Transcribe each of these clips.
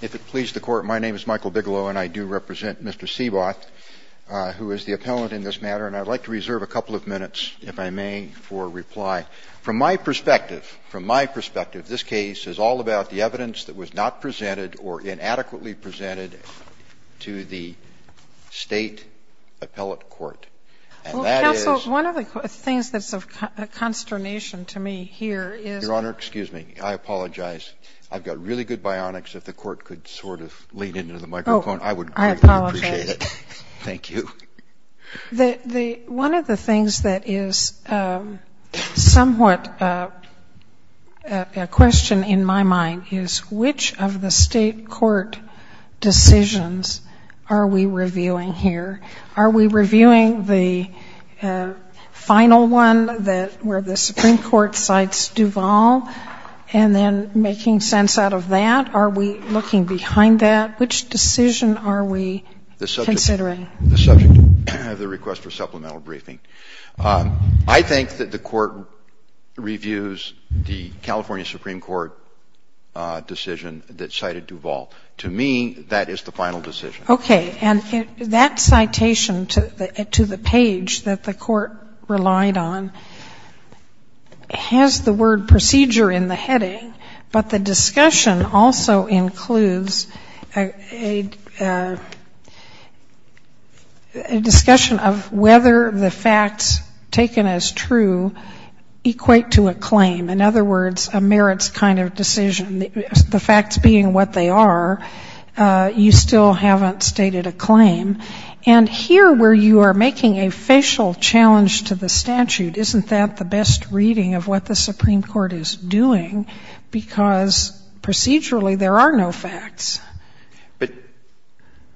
If it pleases the Court, my name is Michael Bigelow, and I do represent Mr. Seeboth, who is the appellant in this matter, and I'd like to reserve a couple of minutes, if I may, for reply. From my perspective, from my perspective, this case is all about the evidence that was not presented or inadequately presented to the State Appellate Court. And that is... Counsel, one of the things that's of consternation to me here is... Excuse me. I apologize. I've got really good bionics. If the Court could sort of lean into the microphone, I would greatly appreciate it. Oh, I apologize. Thank you. One of the things that is somewhat a question in my mind is, which of the State Court decisions are we reviewing here? Are we reviewing the final one where the Supreme Court cites Duvall and then making sense out of that? Are we looking behind that? Which decision are we considering? The subject of the request for supplemental briefing. I think that the Court reviews the California Supreme Court decision that cited Duvall. To me, that is the final decision. Okay. And that citation to the page that the Court relied on has the word procedure in the heading, but the discussion also includes a discussion of whether the facts taken as true equate to a claim. In other words, a merits kind of decision. The facts being what they are, you still haven't stated a claim. And here where you are making a facial challenge to the statute, isn't that the best reading of what the Supreme Court is doing because procedurally there are no facts? But,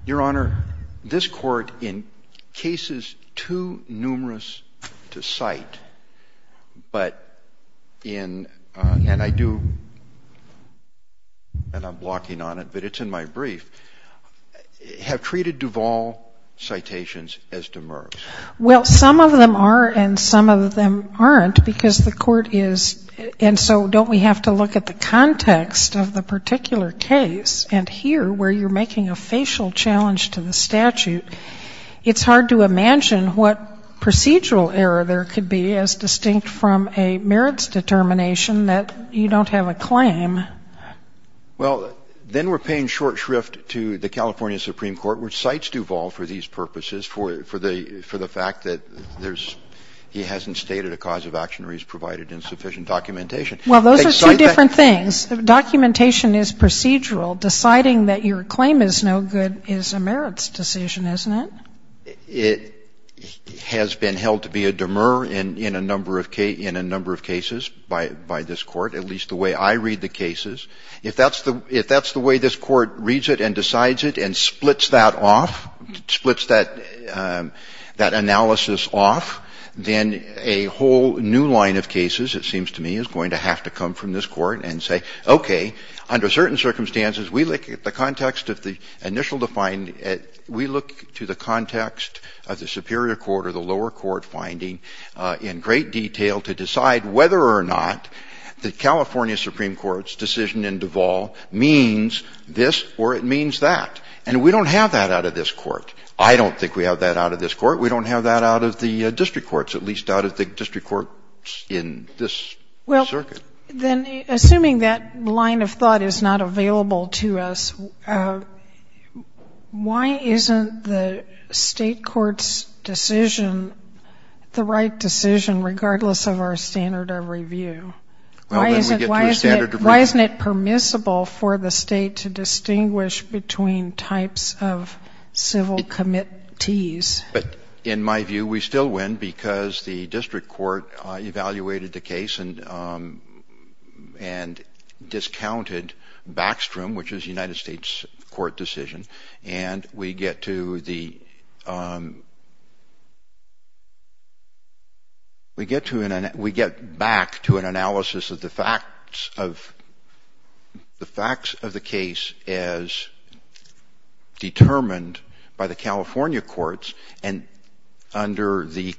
Your Honor, this Court in cases too numerous to cite, but in, and I do, and I'm blocking on it, but it's in my brief, have treated Duvall citations as demers. Well, some of them are and some of them aren't because the Court is, and so don't we have to look at the context of the particular case, and here where you're making a facial challenge to the statute, it's hard to imagine what procedural error there could be as distinct from a merits determination that you don't have a claim. Well, then we're paying short shrift to the California Supreme Court, which cites Duvall for these purposes, for the fact that there's, he hasn't stated a cause of action or he's provided insufficient documentation. Well, those are two different things. The documentation is procedural. Deciding that your claim is no good is a merits decision, isn't it? It has been held to be a demur in a number of cases by this Court, at least the way I read the cases. If that's the way this Court reads it and decides it and splits that off, splits that analysis off, then a whole new line of cases, it seems to me, is going to have to come from this Court. Okay. Under certain circumstances, we look at the context of the initial defined, we look to the context of the superior court or the lower court finding in great detail to decide whether or not the California Supreme Court's decision in Duvall means this or it means that. And we don't have that out of this Court. I don't think we have that out of this Court. We don't have that out of the district courts, at least out of the district courts in this circuit. Then, assuming that line of thought is not available to us, why isn't the State Court's decision the right decision regardless of our standard of review? Why isn't it permissible for the State to distinguish between types of civil committees? But in my view, we still win because the district court evaluated the case and discounted Backstrom, which is a United States court decision. And we get to the we get to an we get back to an analysis of the facts of the facts of the case as determined by the California courts. And under the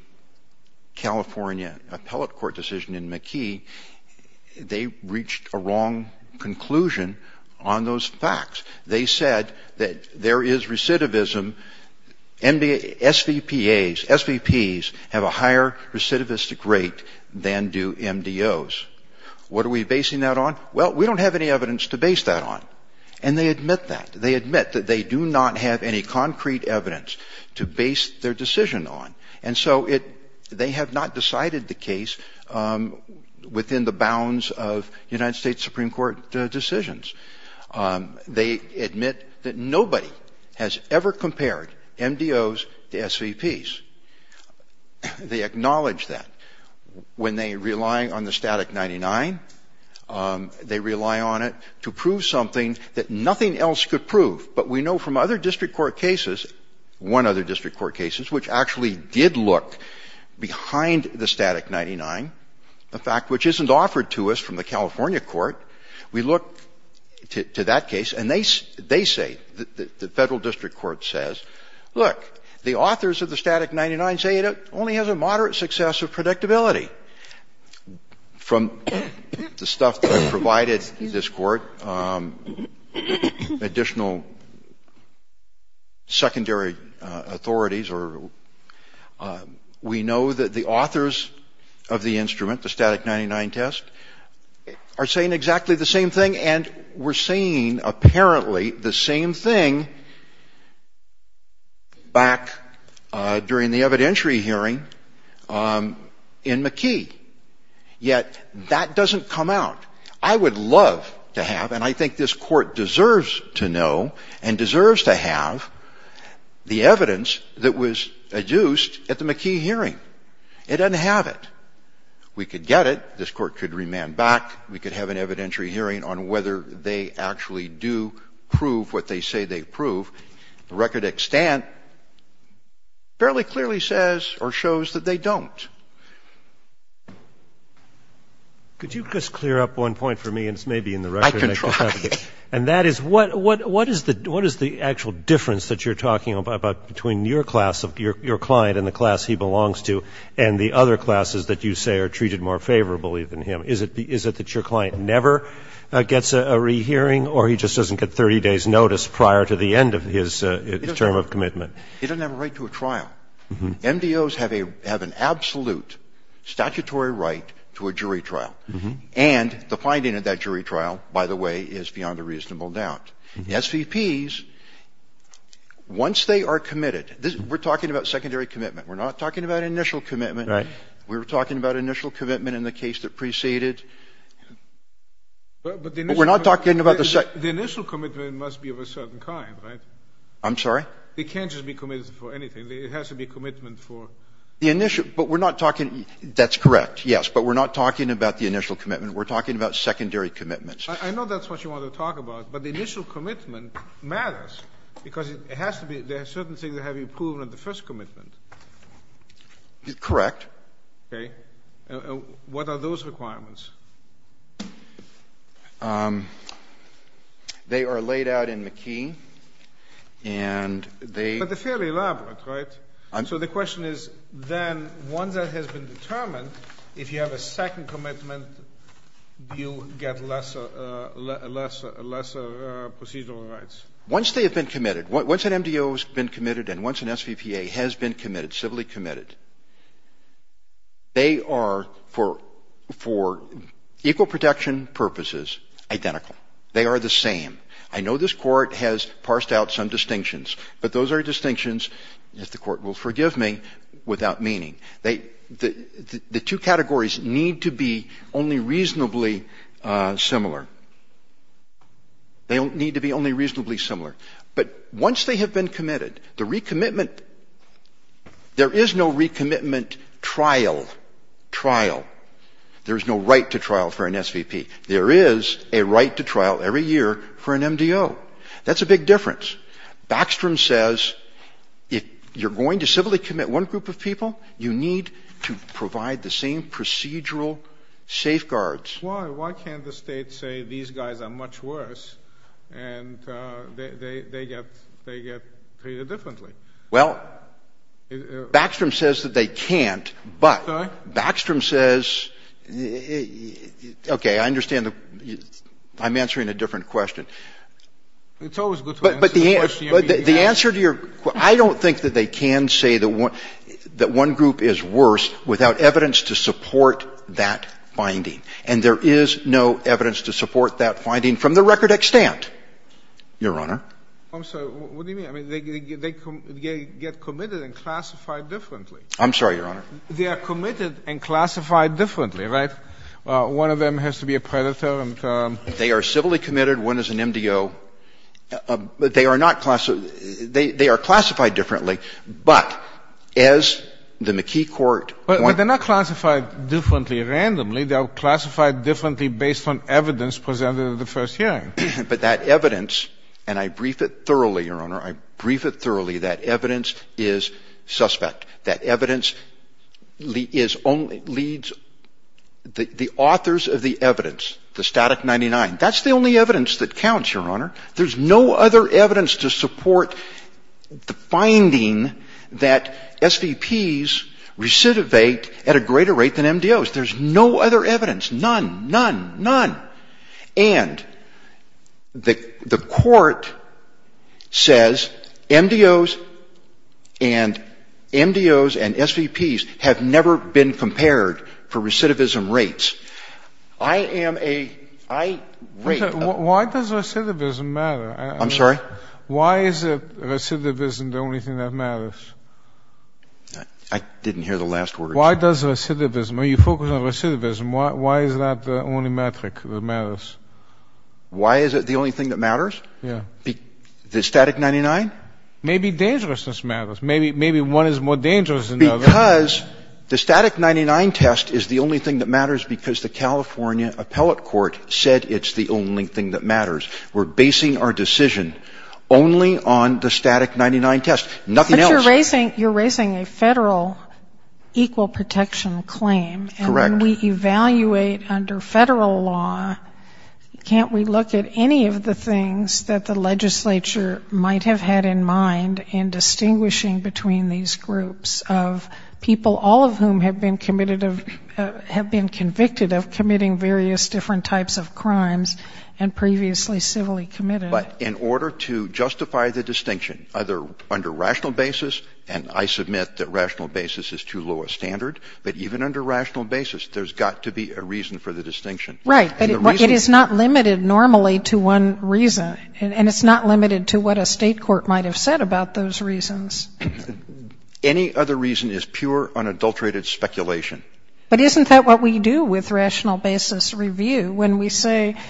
California appellate court decision in McKee, they reached a wrong conclusion on those facts. They said that there is recidivism. SVPAs, SVPs have a higher recidivistic rate than do MDOs. What are we basing that on? Well, we don't have any evidence to base that on. And they admit that. They admit that they do not have any concrete evidence to base their decision on. And so it they have not decided the case within the bounds of United States Supreme Court decisions. They admit that nobody has ever compared MDOs to SVPs. They acknowledge that. When they rely on the Static 99, they rely on it to prove something that nothing else could prove. But we know from other district court cases, one other district court cases, which actually did look behind the Static 99, the fact which isn't offered to us from the California court, we look to that case, and they say, the Federal District Court says, look, the authors of the Static 99 say it only has a moderate success of predictability. From the stuff that is provided to this court, additional secondary authorities or we know that the authors of the instrument, the Static 99 test, are saying exactly the same thing. And we're saying apparently the same thing back during the evidentiary hearing in McKee, yet that doesn't come out. I would love to have, and I think this Court deserves to know and deserves to have, the evidence that was adduced at the McKee hearing. It doesn't have it. We could get it. This Court could remand back. We could have an evidentiary hearing on whether they actually do prove what they say they prove. The record at Stantt fairly clearly says or shows that they don't. Roberts. Could you just clear up one point for me, and it's maybe in the record. I can try. And that is what is the actual difference that you're talking about between your class, your client and the class he belongs to, and the other classes that you say are treated more favorably than him? Is it that your client never gets a rehearing or he just doesn't get 30 days' notice prior to the end of his term of commitment? He doesn't have a right to a trial. MDOs have an absolute statutory right to a jury trial. And the finding of that jury trial, by the way, is beyond a reasonable doubt. SVPs, once they are committed, we're talking about secondary commitment. We're not talking about initial commitment. Right. We were talking about initial commitment in the case that preceded. But the initial commitment must be of a certain degree. It can't be of a certain kind, right? I'm sorry? It can't just be committed for anything. It has to be commitment for the initial. But we're not talking. That's correct, yes. But we're not talking about the initial commitment. We're talking about secondary commitments. I know that's what you want to talk about. But the initial commitment matters because it has to be certain things that have been proven in the first commitment. Correct. Okay. What are those requirements? They are laid out in McKee. And they — But they're fairly elaborate, right? So the question is, then, once that has been determined, if you have a second commitment, you get lesser procedural rights. Once they have been committed, once an MDO has been committed and once an SVPA has been committed, civilly committed, they are, for equal protection purposes, identical. They are the same. I know this court has parsed out some distinctions. But those are distinctions, if the court will forgive me, without meaning. The two categories need to be only reasonably similar. They need to be only reasonably similar. But once they have been committed, the recommitment — there is no recommitment trial. Trial. There is no right to trial for an SVP. There is a right to trial every year for an MDO. That's a big difference. Backstrom says if you're going to civilly commit one group of people, you need to provide the same procedural safeguards. Why? Why can't the State say these guys are much worse and they get treated differently? Well, Backstrom says that they can't, but Backstrom says — okay, I understand the — I'm answering a different question. It's always good to answer the question you're being asked. But the answer to your — I don't think that they can say that one group is worse without evidence to support that finding. And there is no evidence to support that finding from the record extant, Your Honor. I'm sorry. What do you mean? I mean, they get committed and classified differently. I'm sorry, Your Honor. They are committed and classified differently, right? One of them has to be a predator and — They are civilly committed. One is an MDO. They are not — they are classified differently. But as the McKee court — But they're not classified differently randomly. They are classified differently based on evidence presented at the first hearing. But that evidence — and I brief it thoroughly, Your Honor. I brief it thoroughly. That evidence is suspect. That evidence is only — leads — the authors of the evidence, the Static 99, that's the only evidence that counts, Your Honor. There's no other evidence to support the finding that SVPs recidivate at a greater rate than MDOs. There's no other evidence. None. None. None. And the court says MDOs and SVPs have never been compared for recidivism rates. I am a — I rate — Why does recidivism matter? I'm sorry? Why is recidivism the only thing that matters? I didn't hear the last words. Why does recidivism — when you focus on recidivism, why is that the only metric that matters? Why is it the only thing that matters? Yeah. The Static 99? Maybe dangerousness matters. Maybe one is more dangerous than the other. Because the Static 99 test is the only thing that matters because the California appellate court said it's the only thing that matters. We're basing our decision only on the Static 99 test. Nothing else. But you're raising — you're raising a Federal equal protection claim. Correct. And when we evaluate under Federal law, can't we look at any of the things that the legislature might have had in mind in distinguishing between these groups of people, all of whom have been committed of — have been convicted of committing various different types of crimes and previously civilly committed? But in order to justify the distinction, either under rational basis — and I submit that rational basis is too low a standard — but even under rational basis, there's got to be a reason for the distinction. Right. But it is not limited normally to one reason. And it's not limited to what a State court might have said about those reasons. Any other reason is pure, unadulterated speculation. But isn't that what we do with rational basis review when we say —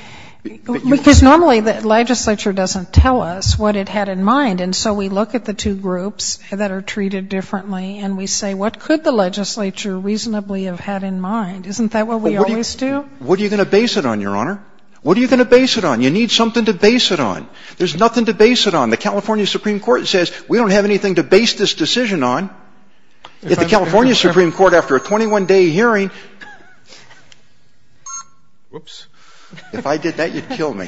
because normally the legislature doesn't tell us what it had in mind, and so we look at the two groups that are treated differently and we say, what could the legislature reasonably have had in mind? Isn't that what we always do? What are you going to base it on, Your Honor? What are you going to base it on? You need something to base it on. There's nothing to base it on. The California Supreme Court says, we don't have anything to base this decision on. If the California Supreme Court, after a 21-day hearing — Oops. If I did that, you'd kill me.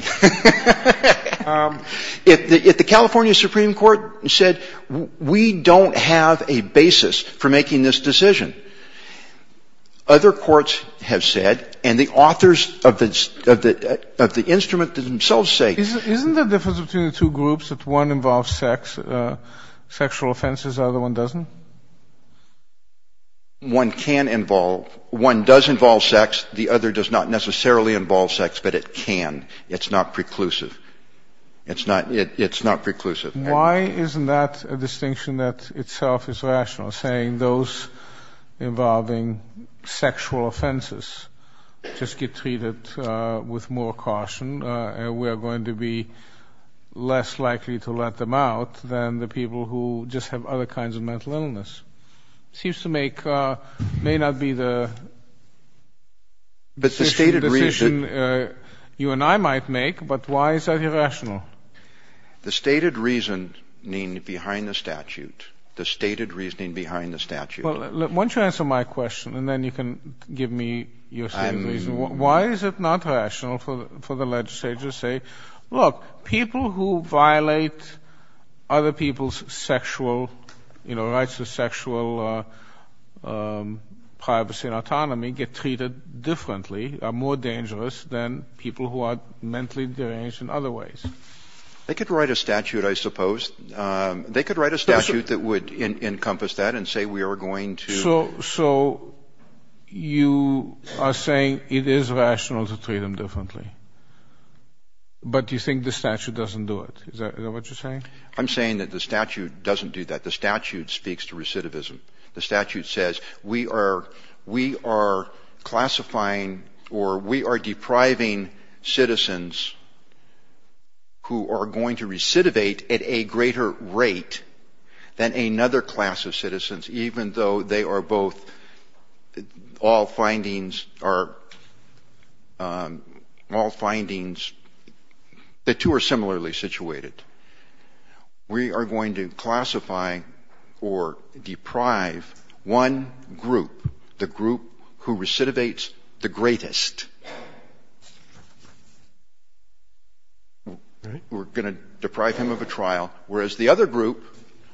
If the California Supreme Court said, we don't have a basis for making this decision, other courts have said, and the authors of the instrument themselves say — Isn't the difference between the two groups that one involves sex, sexual offenses, the other one doesn't? One can involve — one does involve sex. The other does not necessarily involve sex, but it can. It's not preclusive. It's not — it's not preclusive. Why isn't that a distinction that itself is rational, saying those involving sexual offenses just get treated with more caution and we are going to be less likely to let them out than the people who just have other kinds of mental illness? Seems to make — may not be the decision you and I might make, but why is that irrational? The stated reasoning behind the statute — the stated reasoning behind the statute — Well, why don't you answer my question, and then you can give me your stated reason. I'm — Why is it not rational for the legislature to say, look, people who violate other people's sexual — you know, rights to sexual privacy and autonomy get treated differently, are more dangerous than people who are mentally deranged in other ways? They could write a statute, I suppose. They could write a statute that would encompass that and say we are going to — So you are saying it is rational to treat them differently, but you think the statute doesn't do it. Is that what you're saying? I'm saying that the statute doesn't do that. The statute speaks to recidivism. The statute says we are classifying or we are depriving citizens who are going to recidivate at a greater rate than another class of citizens, even though they are both — all findings are — all findings, the two are similarly situated. We are going to classify or deprive one group, the group who recidivates the greatest. We're going to deprive him of a trial, whereas the other group,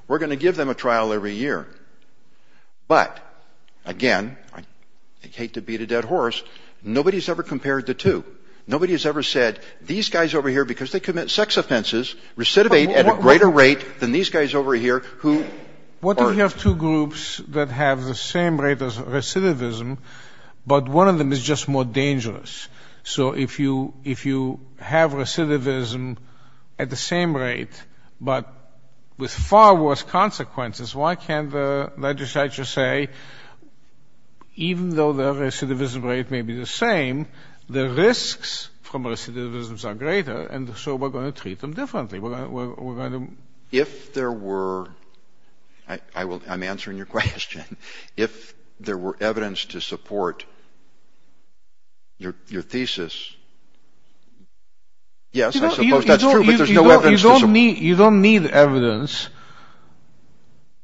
we're going to give them a trial every year. But, again, I hate to beat a dead horse, nobody has ever compared the two. Nobody has ever said these guys over here, because they commit sex offenses, recidivate at a greater rate than these guys over here who are — What if you have two groups that have the same rate of recidivism, but one of them is just more dangerous? So if you have recidivism at the same rate, but with far worse consequences, why can't the legislature say even though the recidivism rate may be the same, the risks from recidivisms are greater, and so we're going to treat them differently? If there were — I'm answering your question. If there were evidence to support your thesis, yes, I suppose that's true, but there's no evidence to support — You don't need evidence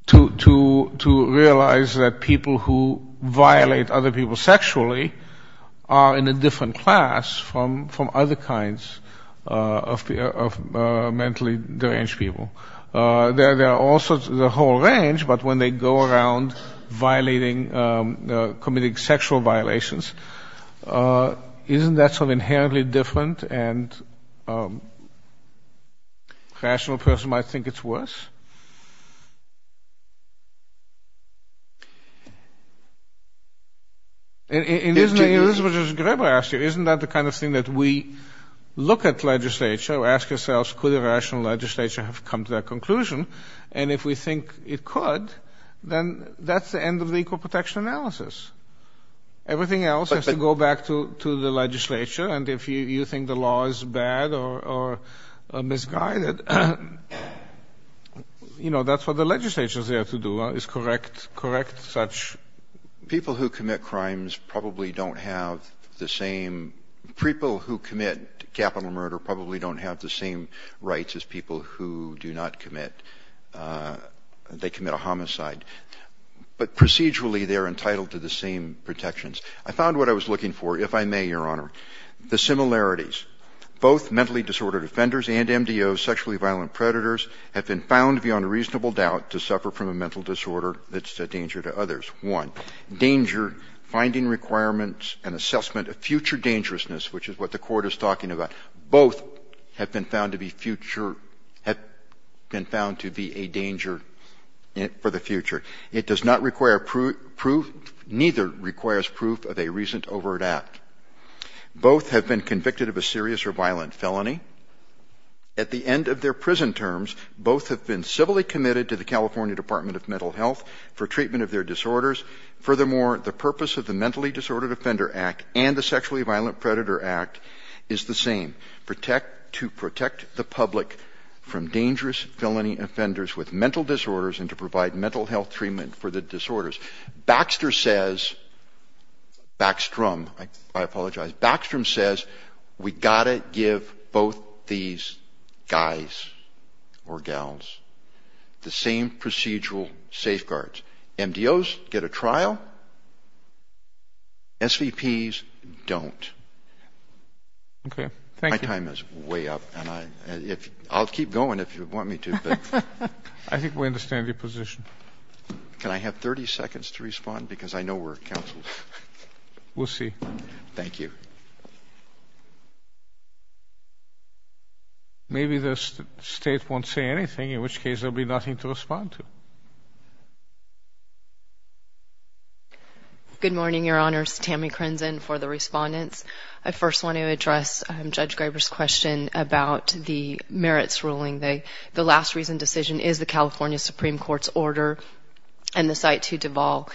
to realize that people who violate other people sexually are in a different class from other kinds of mentally deranged people. There are also the whole range, but when they go around violating, committing sexual violations, isn't that something inherently different, and a rational person might think it's worse? Isn't that the kind of thing that we look at legislature or ask ourselves, could a rational legislature have come to that conclusion, and if we think it could, then that's the end of the equal protection analysis. Everything else has to go back to the legislature, and if you think the law is bad or misguided, you know, that's what the legislature is there to do, is correct such — People who commit crimes probably don't have the same — people who commit capital murder probably don't have the same rights as people who do not commit. They commit a homicide. But procedurally, they're entitled to the same protections. I found what I was looking for, if I may, Your Honor, the similarities. Both mentally disordered offenders and MDOs, sexually violent predators, have been found beyond reasonable doubt to suffer from a mental disorder that's a danger to others. One, danger, finding requirements and assessment of future dangerousness, which is what the Court is talking about, both have been found to be future — have been found to be a danger for the future. It does not require proof — neither requires proof of a recent overt act. Both have been convicted of a serious or violent felony. At the end of their prison terms, both have been civilly committed to the California Department of Mental Health for treatment of their disorders. Furthermore, the purpose of the Mentally Disordered Offender Act and the Sexually Violent Predator Act is the same, to protect the public from dangerous felony offenders with mental disorders and to provide mental health treatment for the disorders. Baxter says — Backstrom, I apologize. Backstrom says we've got to give both these guys or gals the same procedural safeguards. MDOs get a trial. SVPs don't. Okay. Thank you. My time is way up, and I'll keep going if you want me to. I think we understand your position. Can I have 30 seconds to respond? Because I know we're counsels. We'll see. Thank you. Maybe the state won't say anything, in which case there will be nothing to respond to. Good morning, Your Honors. Tammy Crenzen for the respondents. I first want to address Judge Graber's question about the merits ruling. The last reason decision is the California Supreme Court's order and the site to devolve.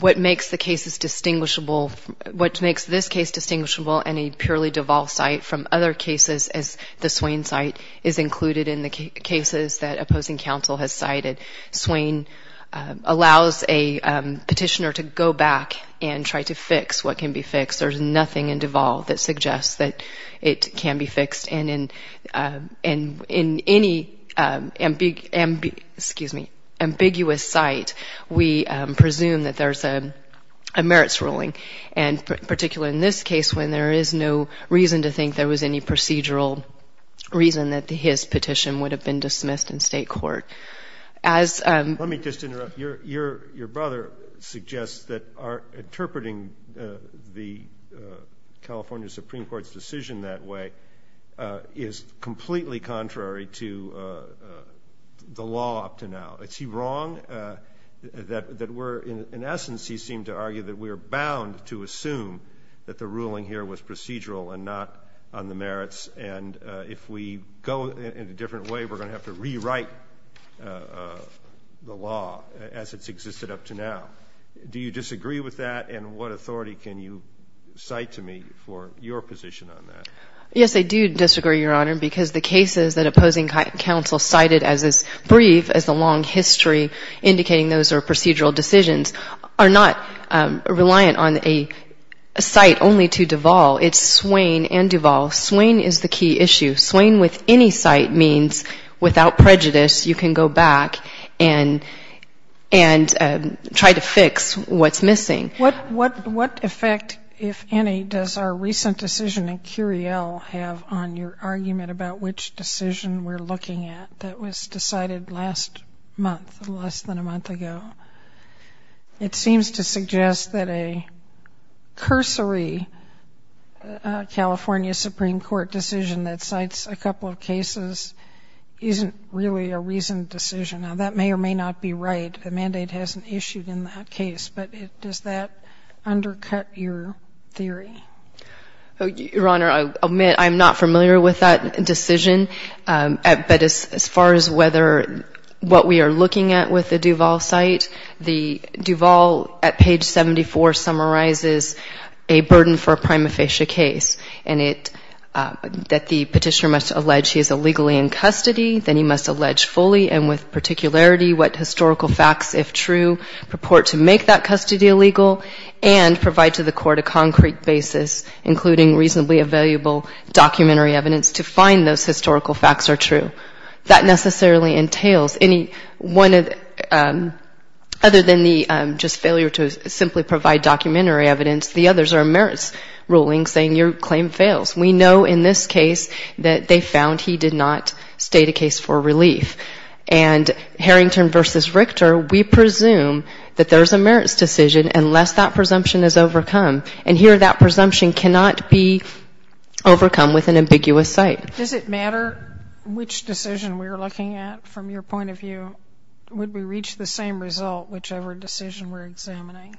What makes the cases distinguishable, what makes this case distinguishable and a purely devolve site from other cases is the Swain site is included in the cases that opposing counsel has cited. Swain allows a petitioner to go back and try to fix what can be fixed. There's nothing in devolve that suggests that it can be fixed. And in any ambiguous site, we presume that there's a merits ruling, and particularly in this case when there is no reason to think there was any procedural reason that his petition would have been dismissed in state court. Let me just interrupt. Your brother suggests that interpreting the California Supreme Court's decision that way is completely contrary to the law up to now. Is he wrong? In essence, he seemed to argue that we're bound to assume that the ruling here was procedural and not on the merits. And if we go in a different way, we're going to have to rewrite the law as it's existed up to now. Do you disagree with that? And what authority can you cite to me for your position on that? Yes, I do disagree, Your Honor, because the cases that opposing counsel cited as brief, as the long history indicating those are procedural decisions, are not reliant on a site only to devolve. It's Swain and devolve. Swain is the key issue. Swain with any site means without prejudice you can go back and try to fix what's missing. What effect, if any, does our recent decision in Curiel have on your argument about which decision we're looking at that was decided last month, less than a month ago? It seems to suggest that a cursory California Supreme Court decision that cites a couple of cases isn't really a reasoned decision. Now, that may or may not be right. The mandate hasn't issued in that case. But does that undercut your theory? Your Honor, I'll admit I'm not familiar with that decision. But as far as whether what we are looking at with the Duval site, the Duval at page 74 summarizes a burden for a prima facie case, and that the petitioner must allege he is illegally in custody, then he must allege fully and with particularity what historical facts, if true, purport to make that custody illegal and provide to the court a concrete basis, including reasonably available documentary evidence to find those historical facts are true. That necessarily entails any one other than the just failure to simply provide documentary evidence. The others are merits rulings saying your claim fails. We know in this case that they found he did not state a case for relief. And Harrington v. Richter, we presume that there's a merits decision unless that presumption is overcome. And here that presumption cannot be overcome with an ambiguous site. Does it matter which decision we are looking at from your point of view? Would we reach the same result whichever decision we're examining?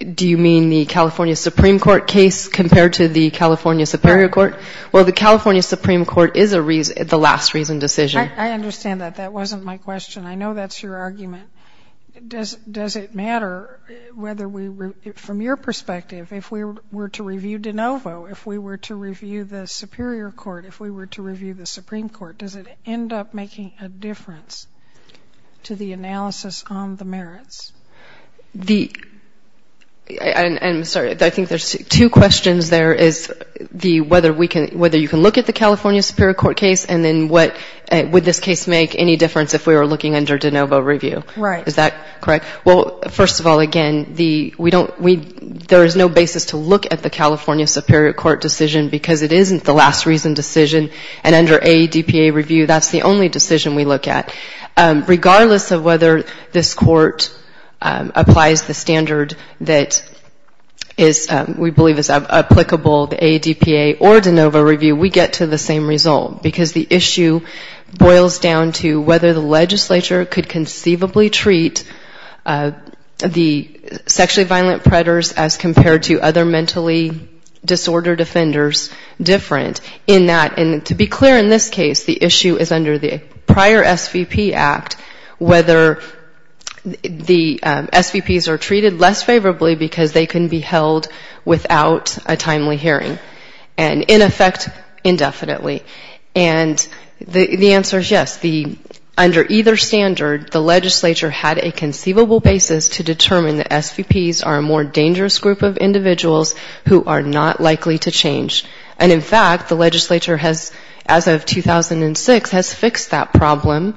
Do you mean the California Supreme Court case compared to the California Superior Court? Well, the California Supreme Court is the last reason decision. I understand that. That wasn't my question. I know that's your argument. Does it matter whether we were, from your perspective, if we were to review de novo, if we were to review the Superior Court, if we were to review the Supreme Court, does it end up making a difference to the analysis on the merits? I'm sorry. I think there's two questions there is the whether you can look at the California Superior Court case and then would this case make any difference if we were looking under de novo review. Right. Is that correct? Well, first of all, again, there is no basis to look at the California Superior Court decision because it isn't the last reason decision. And under AADPA review, that's the only decision we look at. Regardless of whether this court applies the standard that we believe is applicable to AADPA or de novo review, we get to the same result because the issue boils down to whether the legislature could conceivably treat the sexually violent predators as compared to other mentally disordered offenders different in that. And to be clear in this case, the issue is under the prior SVP Act whether the SVPs are treated less favorably because they can be held without a timely hearing. And in effect indefinitely. And the answer is yes. Under either standard, the legislature had a conceivable basis to determine that SVPs are a more dangerous group of individuals who are not likely to change. And in fact, the legislature has as of 2006 has fixed that problem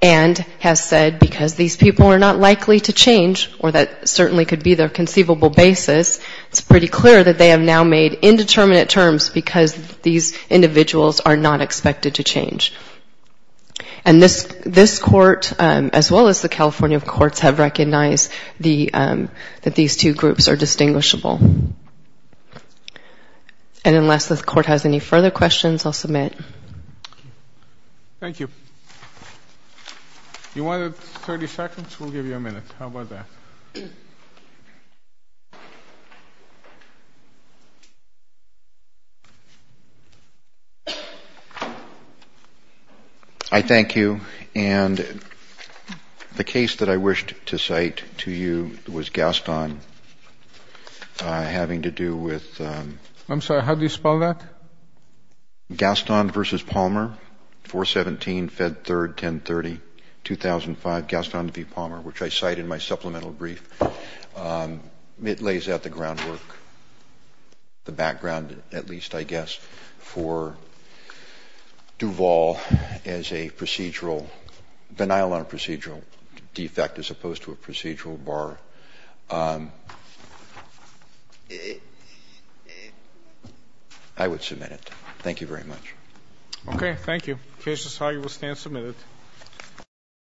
and has said because these people are not likely to change or that certainly could be their conceivable basis, it's pretty clear that they have now made indeterminate decisions because these individuals are not expected to change. And this court as well as the California courts have recognized that these two groups are distinguishable. And unless this court has any further questions, I'll submit. Thank you. You wanted 30 seconds. We'll give you a minute. How about that? I thank you. And the case that I wished to cite to you was Gaston having to do with. I'm sorry, how do you spell that? Gaston versus Palmer, 4-17, Fed 3rd, 10-30, 2005. Gaston v. Palmer, which I cite in my supplemental brief. It lays out the groundwork, the background at least, I guess, for Duval as a procedural, denial on procedural defect as opposed to a procedural bar. I would submit it. Thank you very much. Okay. Thank you. The case is how you will stand submitted.